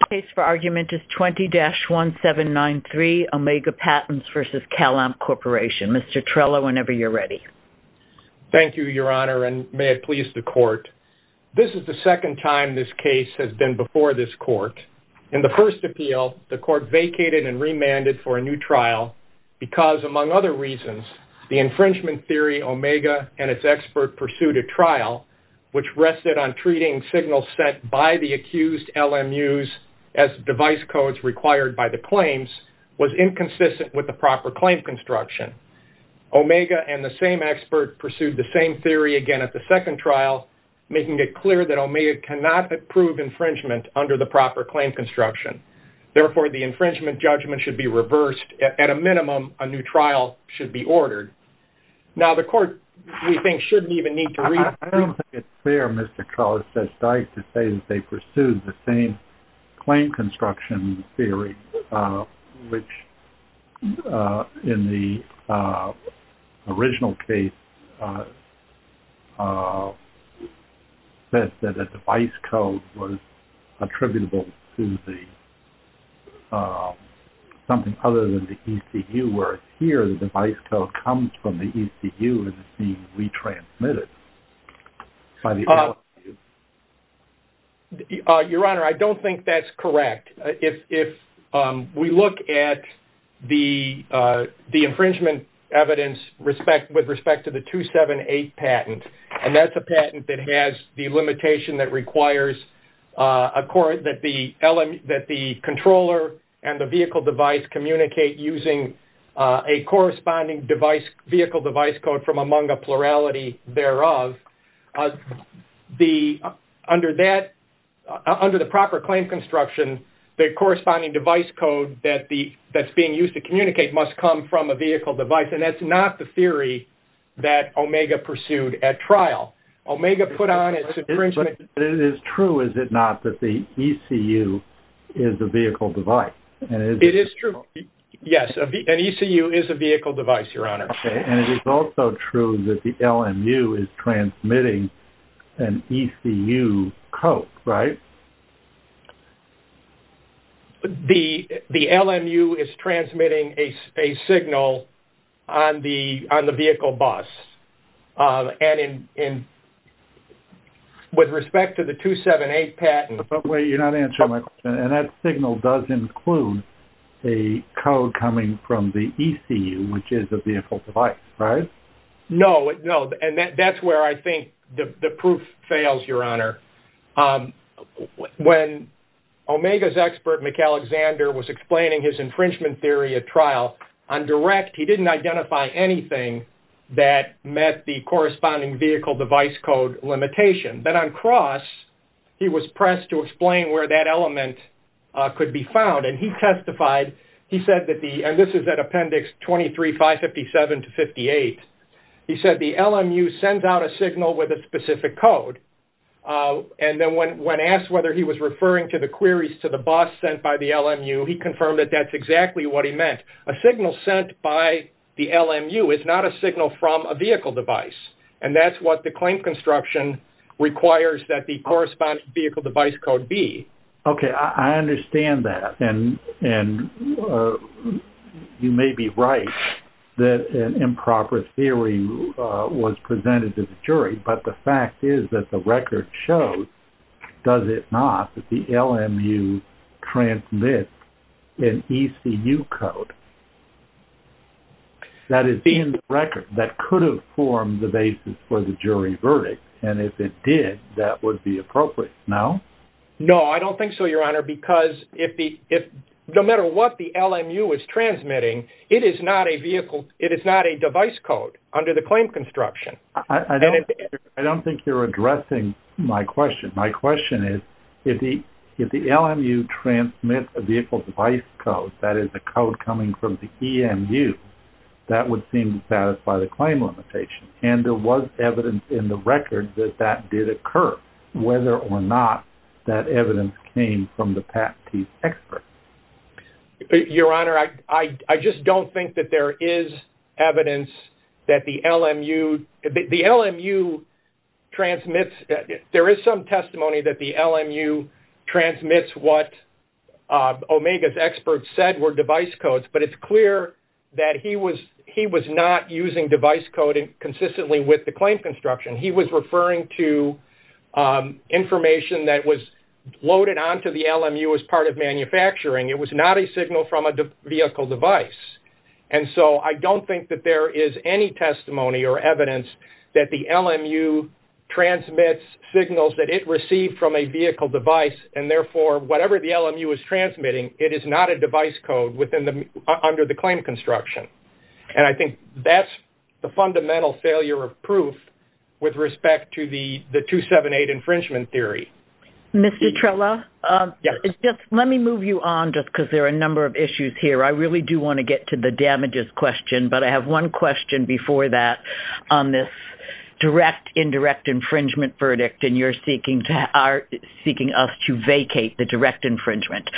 The case for argument is 20-1793, Omega Patents v. CalAmp Corp. Mr. Trello, whenever you're ready. Thank you, Your Honor, and may it please the Court. This is the second time this case has been before this Court. In the first appeal, the Court vacated and remanded for a new trial because, among other reasons, the infringement theory Omega and its expert pursued a trial which rested on treating signals sent by the accused LMUs as device codes required by the claims was inconsistent with the proper claim construction. Omega and the same expert pursued the same theory again at the second trial, making it clear that Omega cannot approve infringement under the proper claim construction. Therefore, the infringement judgment should be reversed. At a minimum, a new trial should be ordered. Now, the Court, we think, shouldn't even need to read through it. I don't think it's fair, Mr. Trello, to say that they pursued the same claim construction theory, which, in the original case, said that a device code was attributable to something other than the ECU, whereas here, the device code comes from the ECU and is being retransmitted by the LMU. Your Honor, I don't think that's correct. If we look at the infringement evidence with respect to the 278 patent, and that's a patent that has the limitation that requires that the controller and the vehicle device communicate using a corresponding vehicle device code from among a plurality thereof, under the proper claim construction, the corresponding device code that's being used to communicate must come from a vehicle device, and that's not the theory that Omega pursued at trial. Omega put on its infringement... But it is true, is it not, that the ECU is a vehicle device? It is true. Yes, an ECU is a vehicle device, Your Honor. And it is also true that the LMU is transmitting an ECU code, right? The LMU is transmitting a signal on the vehicle bus, and with respect to the 278 patent... But wait, you're not answering my question. And that signal does include a code coming from the ECU, which is a vehicle device, right? No, and that's where I think the proof fails, Your Honor. When Omega's expert, McAlexander, was explaining his infringement theory at trial, on direct, he didn't identify anything that met the corresponding vehicle device code limitation. Then on cross, he was pressed to explain where that element could be found. And he testified, he said that the... And this is at appendix 23, 557 to 58. He said the LMU sends out a signal with a specific code. And then when asked whether he was referring to the queries to the bus sent by the LMU, he confirmed that that's exactly what he meant. A signal sent by the LMU is not a signal from a vehicle device. And that's what the claim construction requires that the corresponding vehicle device code be. Okay, I understand that. And you may be right that an improper theory was presented to the jury. But the fact is that the record shows, does it not, that the LMU transmits an ECU code that is in the record that could have formed the basis for the jury verdict. And if it did, that would be appropriate, no? No, I don't think so, Your Honor, because no matter what the LMU is transmitting, it is not a device code under the claim construction. I don't think you're addressing my question. My question is, if the LMU transmits a vehicle device code, that is a code coming from the EMU, that would seem to satisfy the claim limitation. And there was evidence in the record that that did occur, whether or not that evidence came from the PAT-T expert. Your Honor, I just don't think that there is evidence that the LMU transmits. There is some testimony that the LMU transmits what Omega's experts said were device codes. But it's clear that he was not using device coding consistently with the claim construction. He was referring to information that was loaded onto the LMU as part of manufacturing It was not a signal from a vehicle device. And so I don't think that there is any testimony or evidence that the LMU transmits signals that it received from a vehicle device. And therefore, whatever the LMU is transmitting, it is not a device code under the claim construction. And I think that's the fundamental failure of proof with respect to the 278 infringement theory. Mr. Trella, let me move you on just because there are a number of issues here. I really do want to get to the damages question. But I have one question before that on this direct indirect infringement verdict. And you're seeking us to vacate the direct infringement.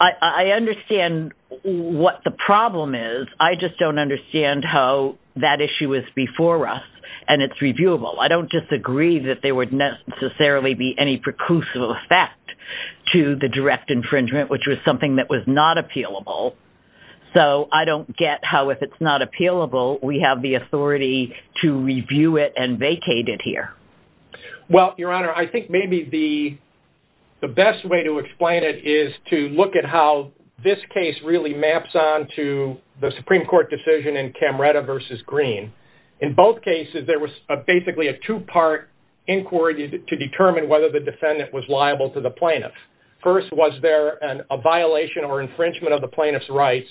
I understand what the problem is. I just don't understand how that issue is before us. And it's reviewable. I don't disagree that there would necessarily be any preclusive effect to the direct infringement, which was something that was not appealable. So I don't get how if it's not appealable, we have the authority to review it and vacate it here. Well, Your Honor, I think maybe the best way to explain it is to look at how this case really maps on to the Supreme Court decision in Camreta v. Green. In both cases, there was basically a two-part inquiry to determine whether the defendant was liable to the plaintiff. First, was there a violation or infringement of the plaintiff's rights?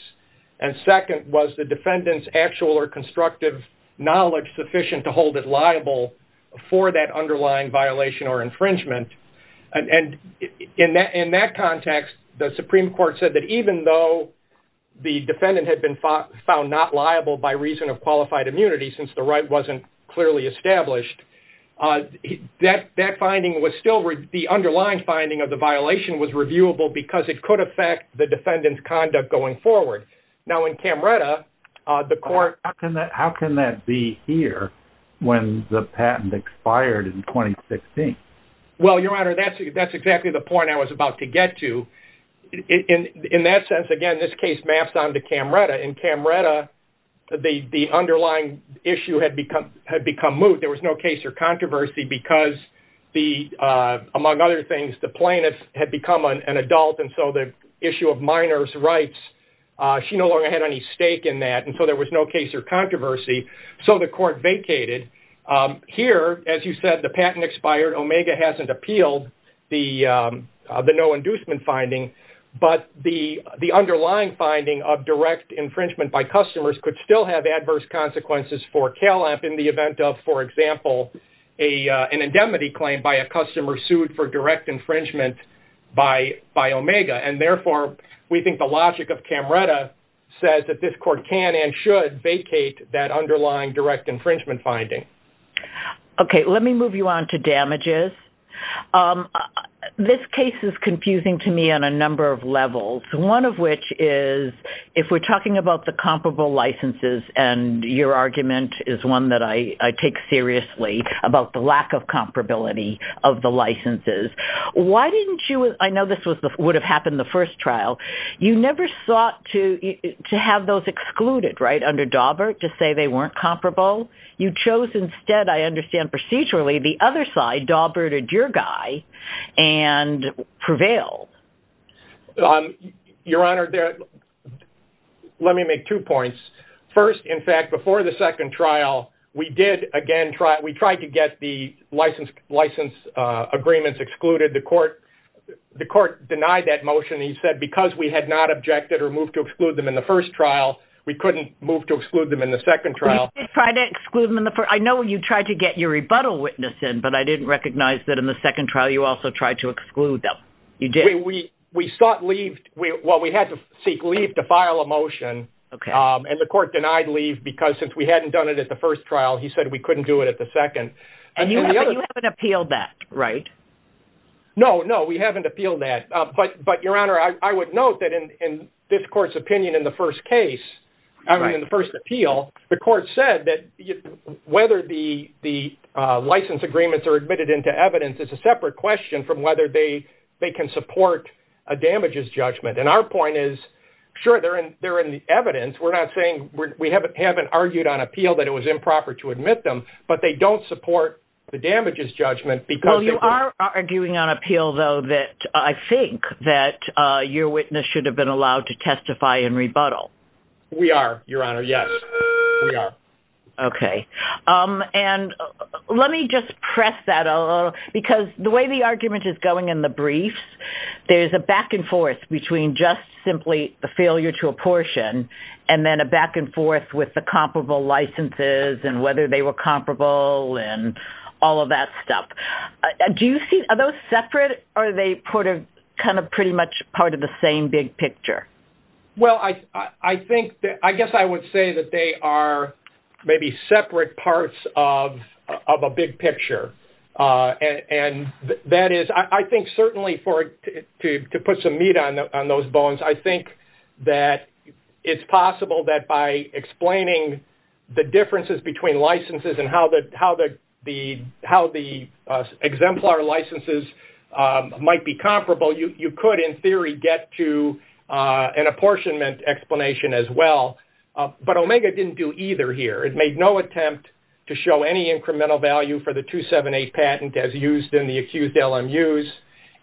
And second, was the defendant's actual or constructive knowledge sufficient to hold it liable for that underlying violation or infringement? And in that context, the Supreme Court said that even though the defendant had been found not liable by reason of qualified immunity, since the right wasn't clearly established, that finding was still—the underlying finding of the violation was reviewable because it could affect the defendant's conduct going forward. Now in Camreta, the court— How can that be here when the patent expired in 2016? Well, Your Honor, that's exactly the point I was about to get to. In that sense, again, this case maps on to Camreta. In Camreta, the underlying issue had become moot. There was no case or controversy because, among other things, the plaintiff had become an adult. And so the issue of minors' rights, she no longer had any stake in that. And so there was no case or controversy. So the court vacated. Here, as you said, the patent expired. Omega hasn't appealed the no-inducement finding. But the underlying finding of direct infringement by customers could still have adverse consequences for Calamp in the event of, for example, an indemnity claim by a customer sued for direct infringement by Omega. And therefore, we think the logic of Camreta says that this court can and should vacate that underlying direct infringement finding. Okay, let me move you on to damages. This case is confusing to me on a number of levels, one of which is, if we're talking about the comparable licenses, and your argument is one that I take seriously, about the lack of comparability of the licenses. Why didn't you, I know this would have happened the first trial, you never sought to have those excluded, right, under Dawbert, to say they weren't comparable. You chose instead, I understand procedurally, the other side, Dawbert or Durgai, and prevailed. Your Honor, let me make two points. First, in fact, before the second trial, we did again try, we tried to get the license agreements excluded. The court denied that motion. He said because we had not objected or moved to exclude them in the first trial, we couldn't move to exclude them in the second trial. I know you tried to get your rebuttal witness in, but I didn't recognize that in the second trial, you also tried to exclude them. We sought leave, well, we had to seek leave to file a motion, and the court denied leave because since we hadn't done it at the first trial, he said we couldn't do it at the second. And you haven't appealed that, right? No, no, we haven't appealed that. But, Your Honor, I would note that in this court's opinion in the first case, I mean, in the first appeal, the court said that whether the license agreements are admitted into evidence is a separate question from whether they can support a damages judgment. And our point is, sure, they're in the evidence. We're not saying, we haven't argued on appeal that it was improper to admit them, but they don't support the damages judgment because... Well, you are arguing on appeal, though, that I think that your witness should have been allowed to testify in rebuttal. We are, Your Honor, yes. We are. Okay. And let me just press that a little, because the way the argument is going in the briefs, there's a back and forth between just simply the failure to apportion, and then a back and forth with the comparable licenses and whether they were comparable and all of that stuff. Are those separate, or are they pretty much part of the same big picture? Well, I guess I would say that they are maybe separate parts of a big picture. I think certainly to put some meat on those bones, I think that it's possible that by explaining the differences between licenses and how the exemplar licenses might be comparable, you could in theory get to an apportionment explanation as well. But Omega didn't do either here. It made no attempt to show any incremental value for the 278 patent as used in the accused LMUs,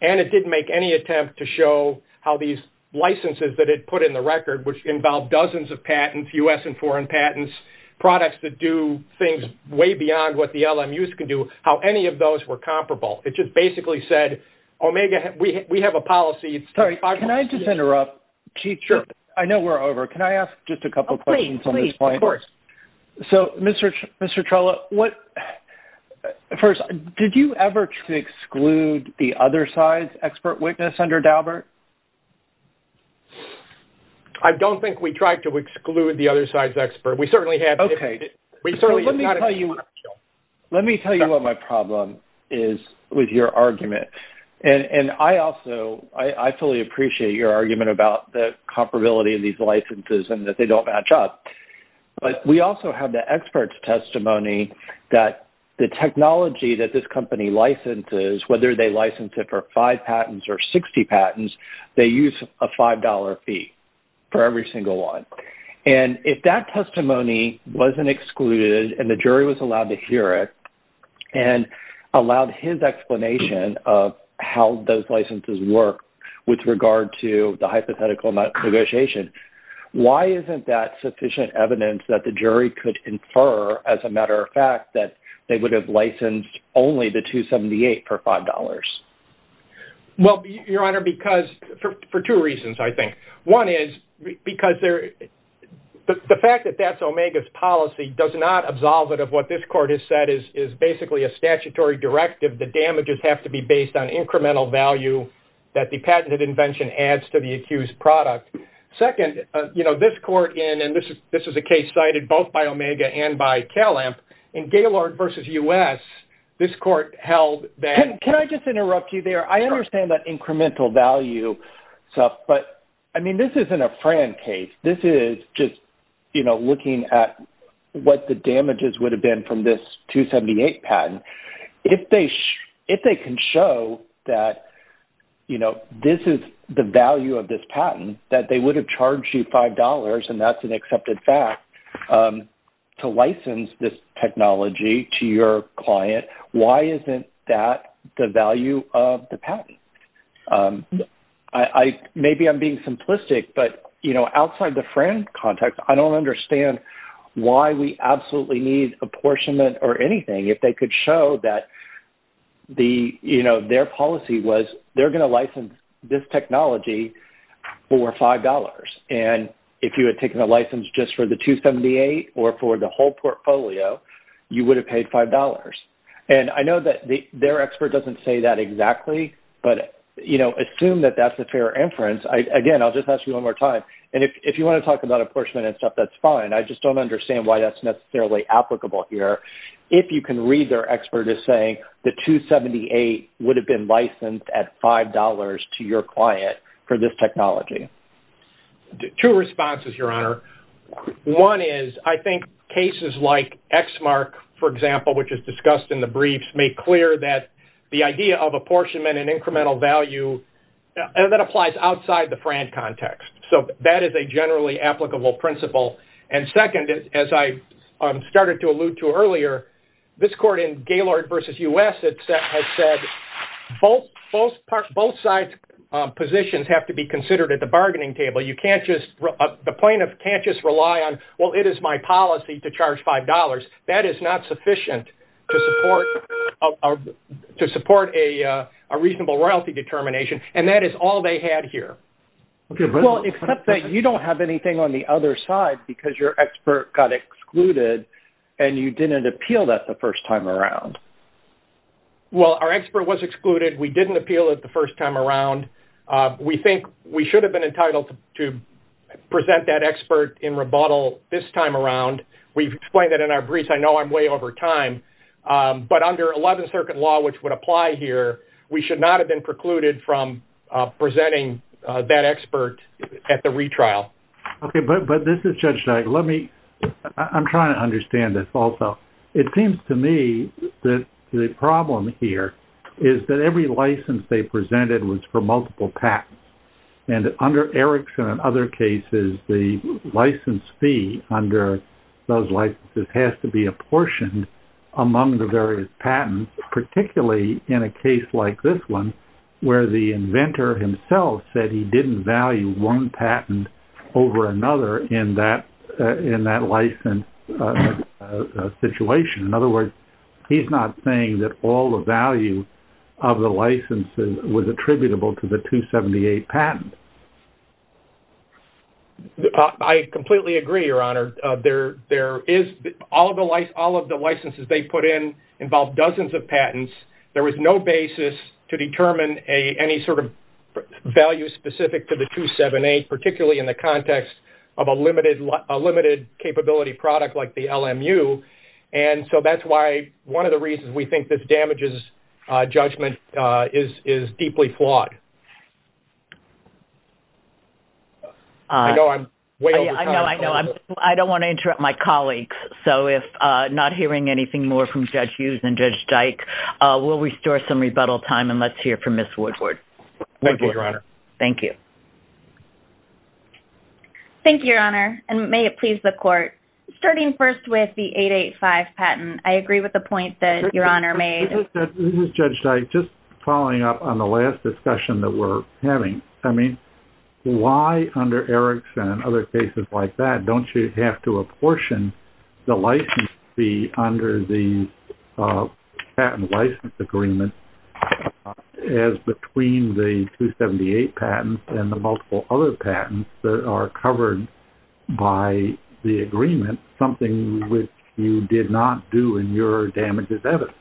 and it didn't make any attempt to show how these licenses that it put in the record, which involved dozens of patents, US and foreign patents, these products that do things way beyond what the LMUs can do, how any of those were comparable. It just basically said, Omega, we have a policy... Sorry, can I just interrupt? Sure. I know we're over. Can I ask just a couple of questions on this point? Of course. So, Mr. Trella, what... First, did you ever try to exclude the other side's expert witness under Daubert? I don't think we tried to exclude the other side's expert. We certainly have... Okay. We certainly... Let me tell you what my problem is with your argument. And I also... I fully appreciate your argument about the comparability of these licenses and that they don't match up. But we also have the expert's testimony that the technology that this company licenses, whether they license it for five patents or 60 patents, they use a $5 fee for every single one. And if that testimony wasn't excluded and the jury was allowed to hear it and allowed his explanation of how those licenses work with regard to the hypothetical negotiation, why isn't that sufficient evidence that the jury could infer, as a matter of fact, that they would have licensed only the 278 for $5? Well, Your Honor, because... For two reasons, I think. One is because there... The fact that that's Omega's policy does not absolve it of what this court has said is basically a statutory directive. The damages have to be based on incremental value that the patented invention adds to the accused product. Second, you know, this court in... And this is a case cited both by Omega and by Calamp. In Gaylord v. U.S., this court held that... Can I just interrupt you there? I understand that incremental value stuff, but, I mean, this isn't a Fran case. This is just, you know, looking at what the damages would have been from this 278 patent. If they can show that, you know, this is the value of this patent, that they would have charged you $5, and that's an accepted fact, to license this technology to your client, why isn't that the value of the patent? Maybe I'm being simplistic, but, you know, outside the Fran context, I don't understand why we absolutely need apportionment or anything if they could show that the, you know, their policy was they're going to license this technology for $5. And if you had taken a license just for the 278 or for the whole portfolio, you would have paid $5. And I know that their expert doesn't say that exactly, but, you know, assume that that's a fair inference. Again, I'll just ask you one more time. And if you want to talk about apportionment and stuff, that's fine. I just don't understand why that's necessarily applicable here. If you can read their expert as saying the 278 would have been licensed at $5 to your client for this technology. Two responses, Your Honor. One is, I think cases like Exmark, for example, which is discussed in the briefs, make clear that the idea of apportionment and incremental value, that applies outside the Fran context. So that is a generally applicable principle. And second, as I started to allude to earlier, this court in Gaylord v. U.S. has said both sides' positions have to be considered at the bargaining table. You can't just, the plaintiff can't just rely on, well, it is my policy to charge $5. That is not sufficient to support a reasonable royalty determination. And that is all they had here. Well, except that you don't have anything on the other side because your expert got excluded and you didn't appeal that the first time around. Well, our expert was excluded. We didn't appeal it the first time around. We think we should have been entitled to present that expert in rebuttal this time around. We've explained that in our briefs. I know I'm way over time. But under 11th Circuit law, which would apply here, we should not have been precluded from presenting that expert at the retrial. Okay, but this is Judge Knight. Let me, I'm trying to understand this also. It seems to me that the problem here is that every license they presented was for multiple patents. And under Erickson and other cases, the license fee under those licenses has to be apportioned among the various patents, particularly in a case like this one, where the inventor himself said he didn't value one patent over another in that license situation. In other words, he's not saying that all the value of the licenses was attributable to the 278 patent. I completely agree, Your Honor. There is, all of the licenses they put in involved dozens of patents. There was no basis to determine any sort of value specific to the 278, particularly in the context of a limited capability product like the LMU. And so that's why one of the reasons we think this damages judgment is deeply flawed. I know I'm way over time. I know, I know. I don't want to interrupt my colleagues. So if not hearing anything more from Judge Hughes and Judge Dyke, we'll restore some rebuttal time and let's hear from Ms. Woodward. Thank you, Your Honor. Thank you. Thank you, Your Honor. And may it please the court. Starting first with the 885 patent, I agree with the point that Your Honor made. This is Judge Dyke. Just following up on the last discussion that we're having. I mean, why under Erickson and other cases like that don't you have to apportion the license fee under the patent license agreement as between the 278 patents and the multiple other patents that are covered by the agreement, something which you did not do in your damages evidence?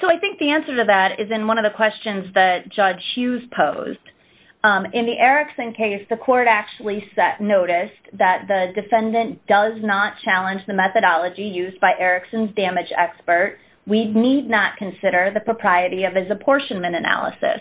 So I think the answer to that is in one of the questions that Judge Hughes posed. In the Erickson case, the court actually noticed that the defendant does not challenge the methodology used by Erickson's damage expert. We need not consider the propriety of his apportionment analysis.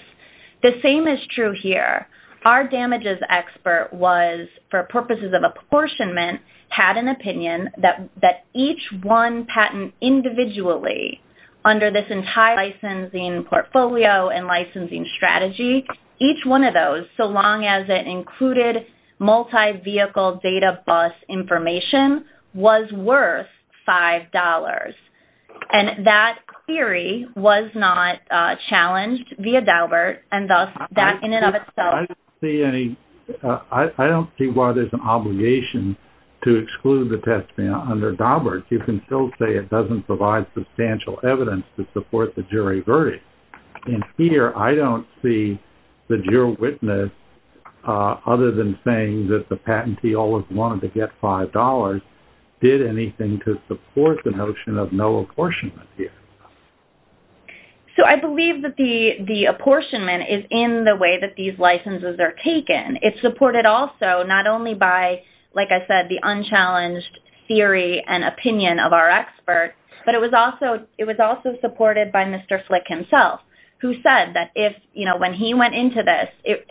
The same is true here. Our damages expert was, for purposes of apportionment, had an opinion that each one patent individually under this entire licensing portfolio and licensing strategy, each one of those, so long as it included multi-vehicle data bus information, was worth $5. And that theory was not challenged via Daubert, and thus that in and of itself... I don't see any... I don't see why there's an obligation to exclude the testimony under Daubert. You can still say it doesn't provide substantial evidence to support the jury verdict. And here, I don't see that your witness, other than saying that the patentee always wanted to get $5, did anything to support the notion of no apportionment here. So I believe that the apportionment is in the way that these licenses are taken. It's supported also not only by, like I said, the unchallenged theory and opinion of our expert, but it was also supported by Mr. Flick himself, who said that when he went into this,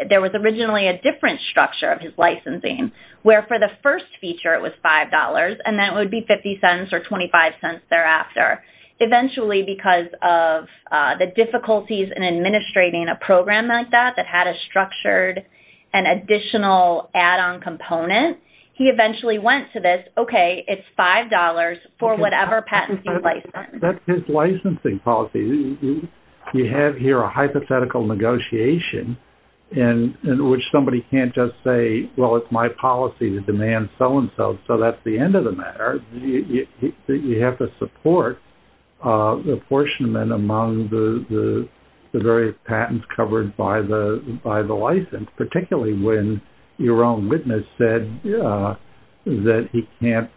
there was originally a different structure of his licensing, where for the first feature it was $5, and then it would be $0.50 or $0.25 thereafter. Eventually, because of the difficulties in administrating a program like that, that had a structured and additional add-on component, he eventually went to this, and said, okay, it's $5 for whatever patent you license. That's his licensing policy. You have here a hypothetical negotiation, in which somebody can't just say, well, it's my policy to demand so-and-so, so that's the end of the matter. You have to support apportionment among the various patents covered by the license, particularly when your own witness said that he can't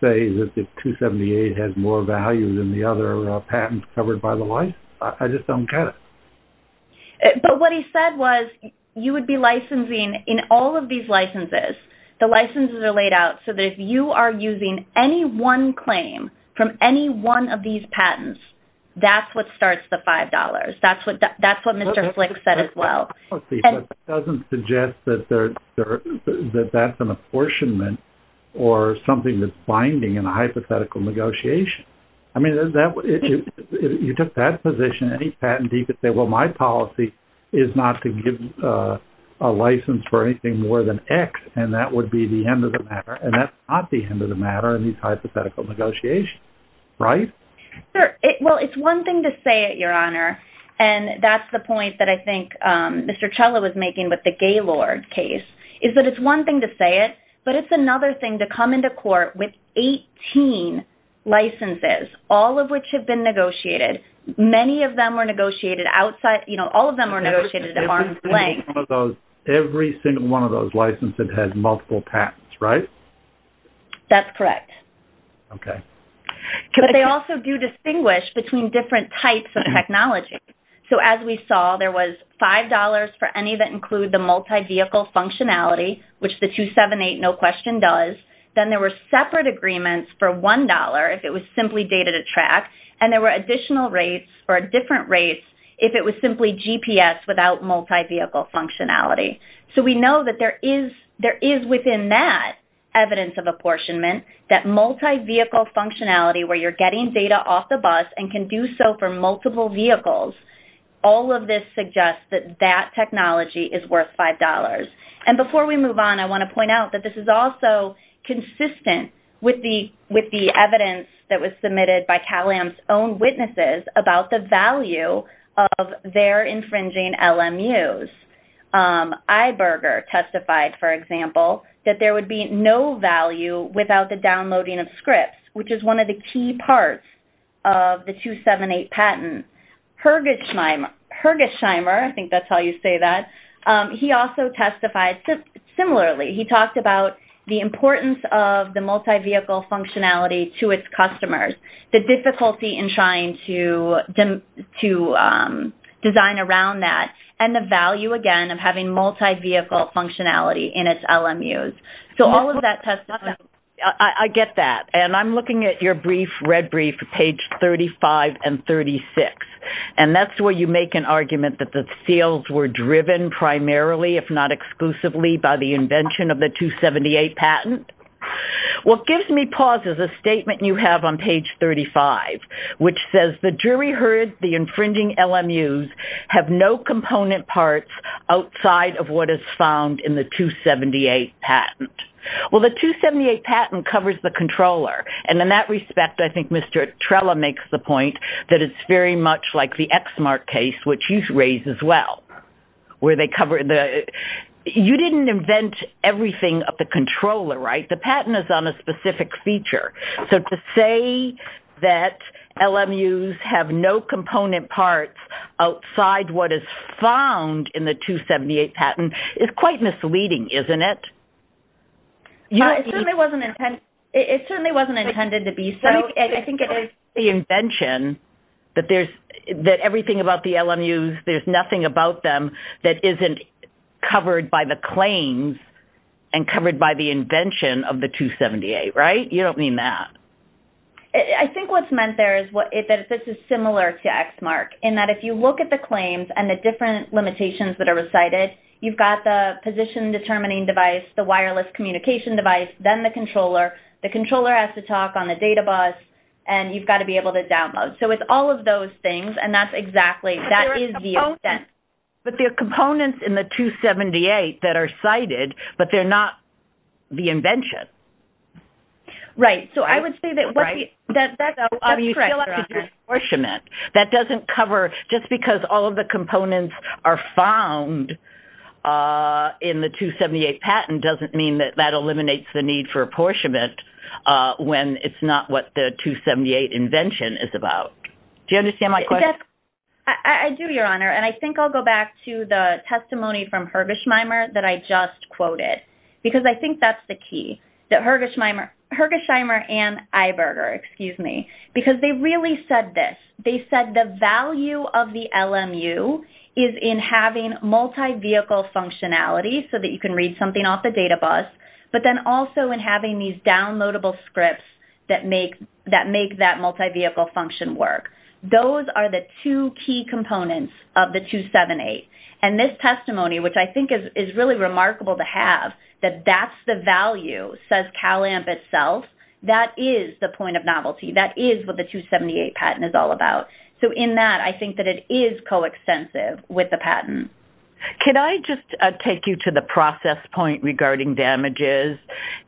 say that the 278 has more value than the other patents covered by the license. I just don't get it. But what he said was, you would be licensing, in all of these licenses, the licenses are laid out, so that if you are using any one claim from any one of these patents, that's what starts the $5. That's what Mr. Flick said as well. It doesn't suggest that that's an apportionment or something that's binding in a hypothetical negotiation. I mean, you took that position, any patentee could say, well, my policy is not to give a license for anything more than X, and that would be the end of the matter, and that's not the end of the matter in these hypothetical negotiations, right? Well, it's one thing to say it, Your Honor, and that's the point that I think Mr. Chella was making with the Gaylord case, is that it's one thing to say it, but it's another thing to come into court with 18 licenses, all of which have been negotiated. Many of them were negotiated outside, you know, all of them were negotiated at arm's length. Every single one of those licenses has multiple patents, right? That's correct. Okay. But they also do distinguish between different types of technology. So as we saw, there was $5 for any that include the multi-vehicle functionality, which the 278 no question does. Then there were separate agreements for $1 if it was simply data to track, and there were additional rates or different rates if it was simply GPS without multi-vehicle functionality. So we know that there is, there is within that evidence of apportionment that multi-vehicle functionality where you're getting data off the bus and can do so for multiple vehicles, all of this suggests that that technology is worth $5. And before we move on, I want to point out that this is also consistent with the, with the evidence that was submitted by Cal-AM's own witnesses about the value of their infringing LMUs. Iberger testified, for example, that there would be no value without the downloading of scripts, which is one of the key parts of the 278 patent. Hergesheimer, I think that's how you say that, he also testified similarly. He talked about the importance of the multi-vehicle functionality to its customers, the difficulty in trying to design around that, and the value, again, of having multi-vehicle functionality in its LMUs. So all of that testified... If you're looking at your brief, red brief, page 35 and 36, and that's where you make an argument that the seals were driven primarily, if not exclusively, by the invention of the 278 patent, what gives me pause is a statement you have on page 35, which says, the jury heard the infringing LMUs have no component parts outside of what is found in the 278 patent. Well, the 278 patent covers the controller, and in that respect, I think Mr. Trella makes the point that it's very much like the Exmark case, which you raised as well, where they cover... You didn't invent everything of the controller, right? The patent is on a specific feature. So to say that LMUs have no component parts outside what is found in the 278 patent is quite misleading, isn't it? It certainly wasn't intended to be so. I think it is the invention that everything about the LMUs, there's nothing about them that isn't covered by the claims and covered by the invention of the 278, right? You don't mean that. I think what's meant there is that this is similar to Exmark, in that if you look at the claims and the different limitations that are recited, you've got the position-determining device, the wireless communication device, then the controller. The controller has to talk on the data bus, and you've got to be able to download. So it's all of those things, and that's exactly... But there are components in the 278 that are cited, but they're not the invention. Right. So I would say that... Right. ...you still have to do an apportionment. That doesn't cover... In the 278 patent doesn't mean that that eliminates the need for apportionment when it's not what the 278 invention is about. Do you understand my question? I do, Your Honour, and I think I'll go back to the testimony from Hergesheimer that I just quoted, because I think that's the key, that Hergesheimer and Iberger, excuse me, because they really said this. They said the value of the LMU is in having multi-vehicle functionality so that you can read something off the data bus, but then also in having these downloadable scripts that make that multi-vehicle function work. Those are the two key components of the 278, and this testimony, which I think is really remarkable to have, that that's the value, says CalAMP itself, that is the point of novelty. That is what the 278 patent is all about. So in that, I think that it is coextensive with the patent. Can I just take you to the process point regarding damages?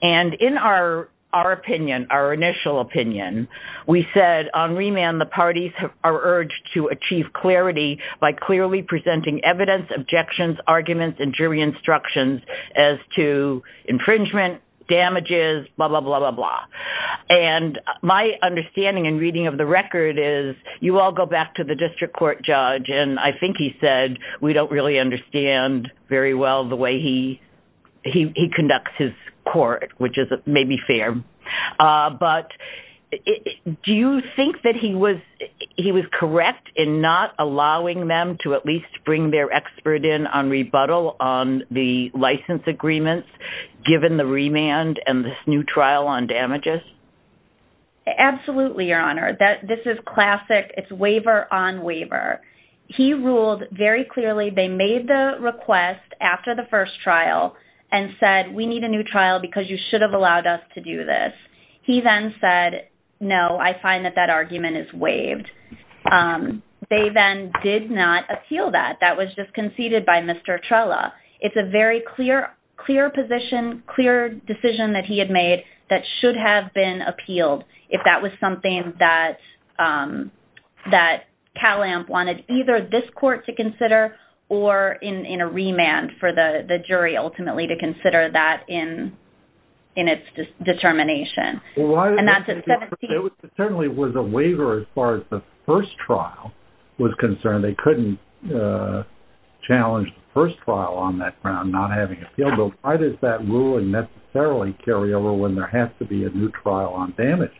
And in our opinion, our initial opinion, we said on remand the parties are urged to achieve clarity by clearly presenting evidence, objections, arguments, and jury instructions as to infringement, damages, blah, blah, blah, blah, blah. And my understanding and reading of the record is you all go back to the district court judge, and I think he said we don't really understand very well the way he conducts his court, which may be fair. But do you think that he was correct in not allowing them to at least bring their expert in on rebuttal on the license agreements given the remand and this new trial on damages? Absolutely, Your Honor. This is classic. It's waiver on waiver. He ruled very clearly they made the request after the first trial and said we need a new trial because you should have allowed us to do this. He then said, no, I find that that argument is waived. They then did not appeal that. That was just conceded by Mr. Trella. It's a very clear position, clear decision that he had made that should have been appealed if that was something that Calamp wanted either this court to consider or in a remand for the jury ultimately to consider that in its determination. And that's at 17. It certainly was a waiver as far as the first trial was concerned. And they couldn't challenge the first trial on that ground, not having appealed. But why does that ruling necessarily carry over when there has to be a new trial on damages?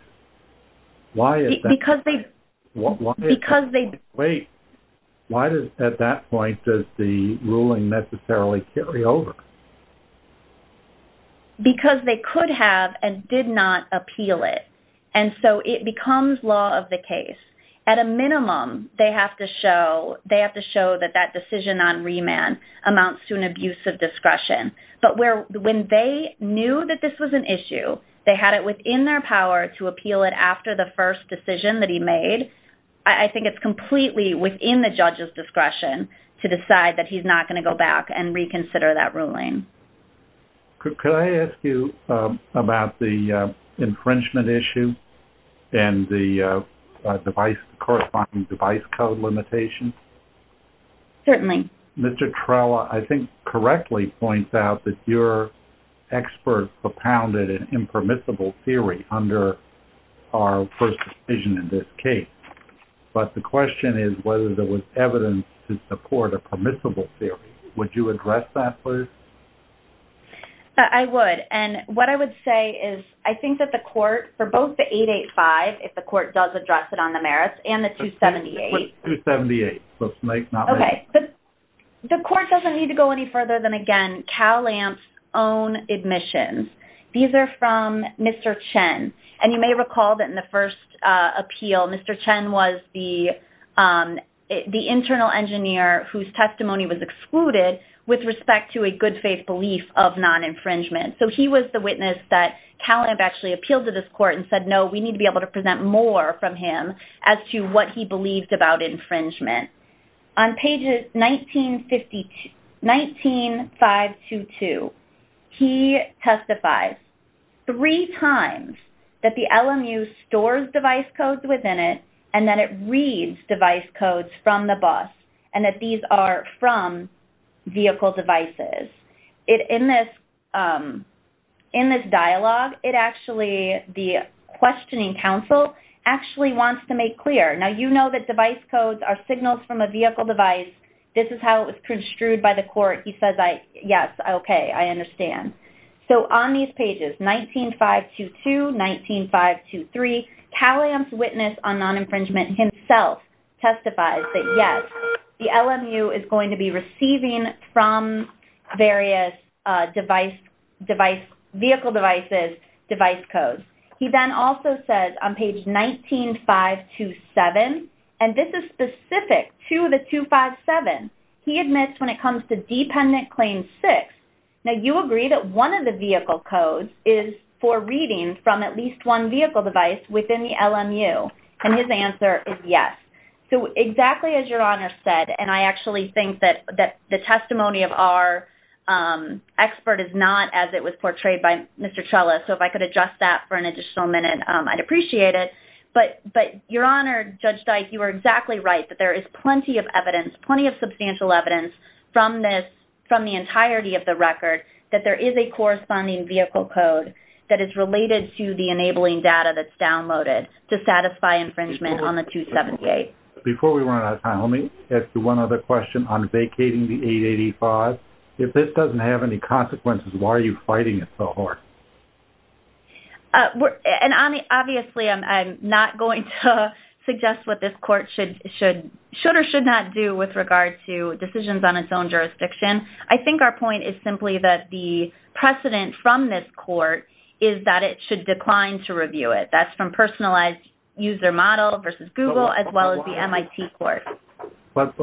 Why is that? Because they... Wait. Why at that point does the ruling necessarily carry over? Because they could have and did not appeal it. And so it becomes law of the case. At a minimum, they have to show that that decision on remand amounts to an abuse of discretion. But when they knew that this was an issue, they had it within their power to appeal it after the first decision that he made, I think it's completely within the judge's discretion to decide that he's not going to go back and reconsider that ruling. Could I ask you about the infringement issue and the corresponding device code limitation? Certainly. Mr. Trella, I think, correctly points out that your expert propounded an impermissible theory under our first decision in this case. But the question is whether there was evidence to support a permissible theory. Would you address that, please? I would. And what I would say is I think that the court, for both the 885, if the court does address it on the merits, and the 278. 278. OK. The court doesn't need to go any further than, again, CalAMP's own admissions. These are from Mr. Chen. And you may recall that in the first appeal, Mr. Chen was the internal engineer whose testimony was excluded with respect to a good faith belief of non-infringement. So he was the witness that CalAMP actually appealed to this court and said, no, we need to be able to present more from him as to what he believed about infringement. On pages 19522, he testifies three times that the LMU stores device codes within it and that it reads device codes from the bus and that these are from vehicle devices. In this dialogue, it actually, the questioning counsel actually wants to make clear. Now, you know that device codes are signals from a vehicle device. This is how it was construed by the court. He says, yes, OK, I understand. So on these pages, 19522, 19523, CalAMP's witness on non-infringement himself testifies that, yes, the LMU is going to be receiving from various device, device, vehicle devices, device codes. He then also says on page 19527, and this is specific to the 257, he admits when it comes to Dependent Claim 6, now you agree that one of the vehicle codes is for reading from at least one vehicle device within the LMU. And his answer is yes. So exactly as Your Honor said, and I actually think that the testimony of our expert is not as it was portrayed by Mr. Chella, so if I could adjust that for an additional minute, I'd appreciate it. But Your Honor, Judge Dyke, you are exactly right, that there is plenty of evidence, plenty of substantial evidence from this, from the entirety of the record, that there is a corresponding vehicle code that is related to the enabling data that's downloaded to satisfy infringement on the 278. Before we run out of time, let me ask you one other question on vacating the 885. If this doesn't have any consequences, why are you fighting it so hard? And obviously I'm not going to suggest what this court should or should not do with regard to decisions on its own jurisdiction. I think our point is simply that the precedent from this court is that it should decline to review it. That's from personalized user model versus Google as well as the MIT court. But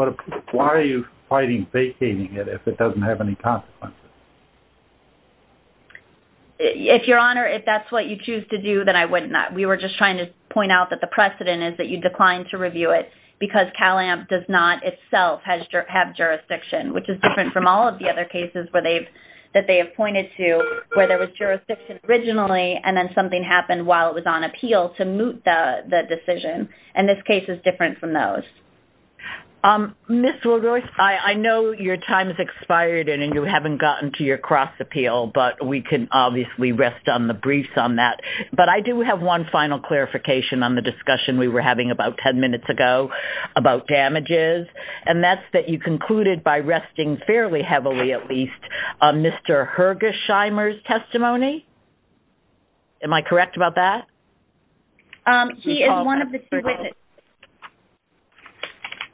why are you fighting vacating it if it doesn't have any consequences? If Your Honor, if that's what you choose to do, then I would not. We were just trying to point out that the precedent is that you decline to review it because CalAMP does not itself have jurisdiction, which is different from all of the other cases that they have pointed to where there was jurisdiction originally and then something happened while it was on appeal to moot the decision. And this case is different from those. Ms. Willroyce, I know your time has expired and you haven't gotten to your cross appeal, but we can obviously rest on the briefs on that. But I do have one final clarification on the discussion we were having about 10 minutes ago about damages, and that's that you concluded by resting fairly heavily, at least, on Mr. Hergesheimer's testimony. Am I correct about that? He is one of the two witnesses.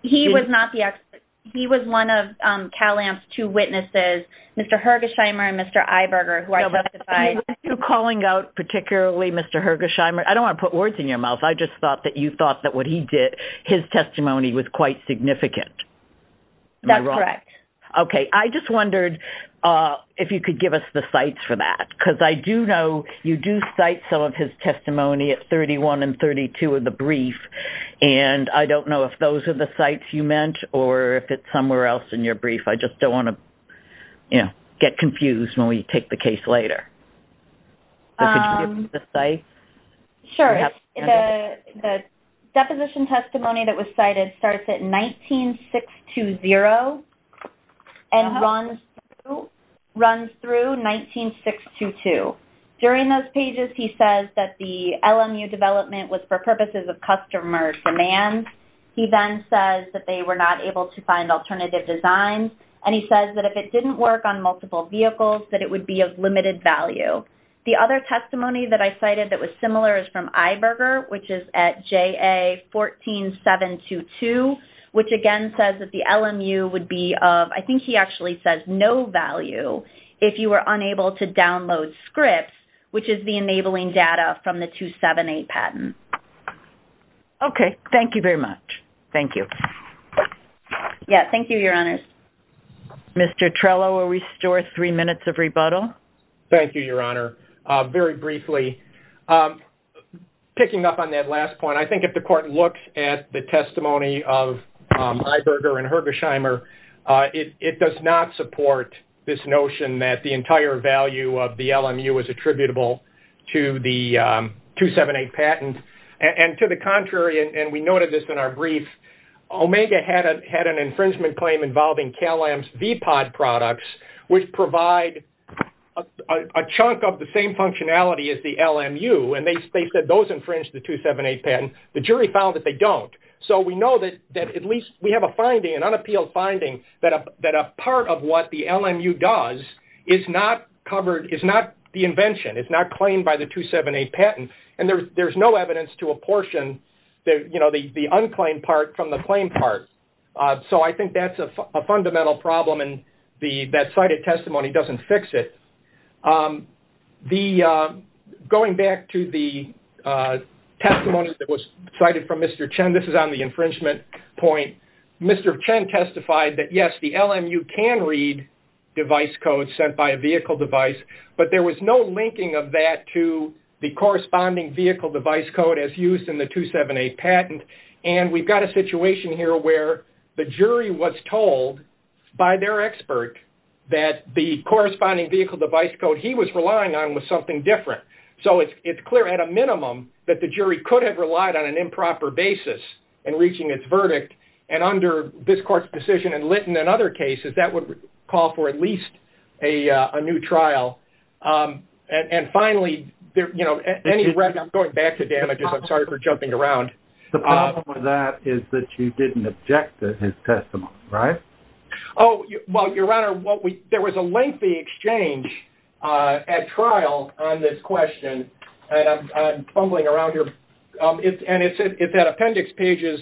He was not the expert. He was one of CalAMP's two witnesses, Mr. Hergesheimer and Mr. Eiberger, who I testified. Are you calling out particularly Mr. Hergesheimer? I don't want to put words in your mouth. I just thought that you thought that what he did, his testimony was quite significant. Am I wrong? That's correct. Okay. I just wondered if you could give us the cites for that, because I do know you do cite some of his testimony at 31 and 32 of the brief, and I don't know if those are the cites you meant or if it's somewhere else in your brief. I just don't want to get confused when we take the case later. Could you give us the cites? Sure. The deposition testimony that was cited starts at 19-620 and runs through 19-622. During those pages, he says that the LMU development was for purposes of customer demand. He then says that they were not able to find alternative designs, and he says that if it didn't work on multiple vehicles, that it would be of limited value. The other testimony that I cited that was similar is from Iberger, which is at JA-14-722, which, again, says that the LMU would be of, I think he actually says, no value if you were unable to download scripts, which is the enabling data from the 278 patent. Okay. Thank you very much. Thank you. Yes. Thank you, Your Honors. Mr. Trello, we'll restore three minutes of rebuttal. Thank you, Your Honor. Very briefly, picking up on that last point, I think if the court looked at the testimony of Iberger and Hergesheimer, it does not support this notion that the entire value of the LMU is attributable to the 278 patent. And to the contrary, and we noted this in our brief, Omega had an infringement claim involving Cal-Am's V-Pod products, which provide a chunk of the same functionality as the LMU, and they said those infringed the 278 patent. The jury found that they don't. So we know that at least we have a finding, an unappealed finding, that a part of what the LMU does is not the invention, it's not claimed by the 278 patent, and there's no evidence to apportion the unclaimed part from the claimed part. So I think that's a fundamental problem, and that cited testimony doesn't fix it. Going back to the testimony that was cited from Mr. Chen, this is on the infringement point, Mr. Chen testified that, yes, the LMU can read device codes sent by a vehicle device, but there was no linking of that to the corresponding vehicle device code as used in the 278 patent. And we've got a situation here where the jury was told by their expert that the corresponding vehicle device code he was relying on was something different. So it's clear at a minimum that the jury could have relied on an improper basis in reaching its verdict, and under this court's decision and Litton and other cases, that would call for at least a new trial. And finally, I'm going back to damages. I'm sorry for jumping around. The problem with that is that you didn't object to his testimony, right? Oh, well, Your Honor, there was a lengthy exchange at trial on this question, and I'm fumbling around here. And it's at appendix pages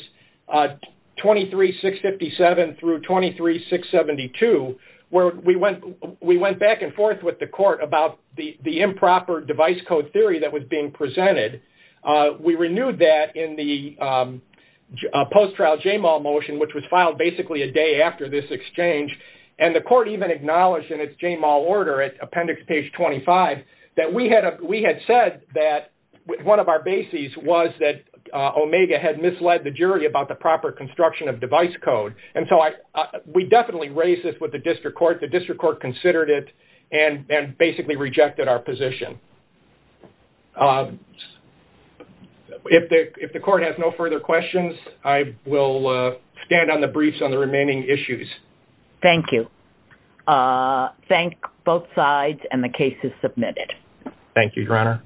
23657 through 23672, where we went back and forth with the court about the improper device code theory that was being presented. We renewed that in the post-trial JMAL motion, which was filed basically a day after this exchange. And the court even acknowledged in its JMAL order at appendix page 25, that we had said that one of our bases was that Omega had misled the jury about the proper construction of device code. And so we definitely raised this with the district court. The district court considered it and basically rejected our position. If the court has no further questions, I will stand on the briefs on the remaining issues. Thank you. Thank both sides, and the case is submitted. Thank you, Your Honor.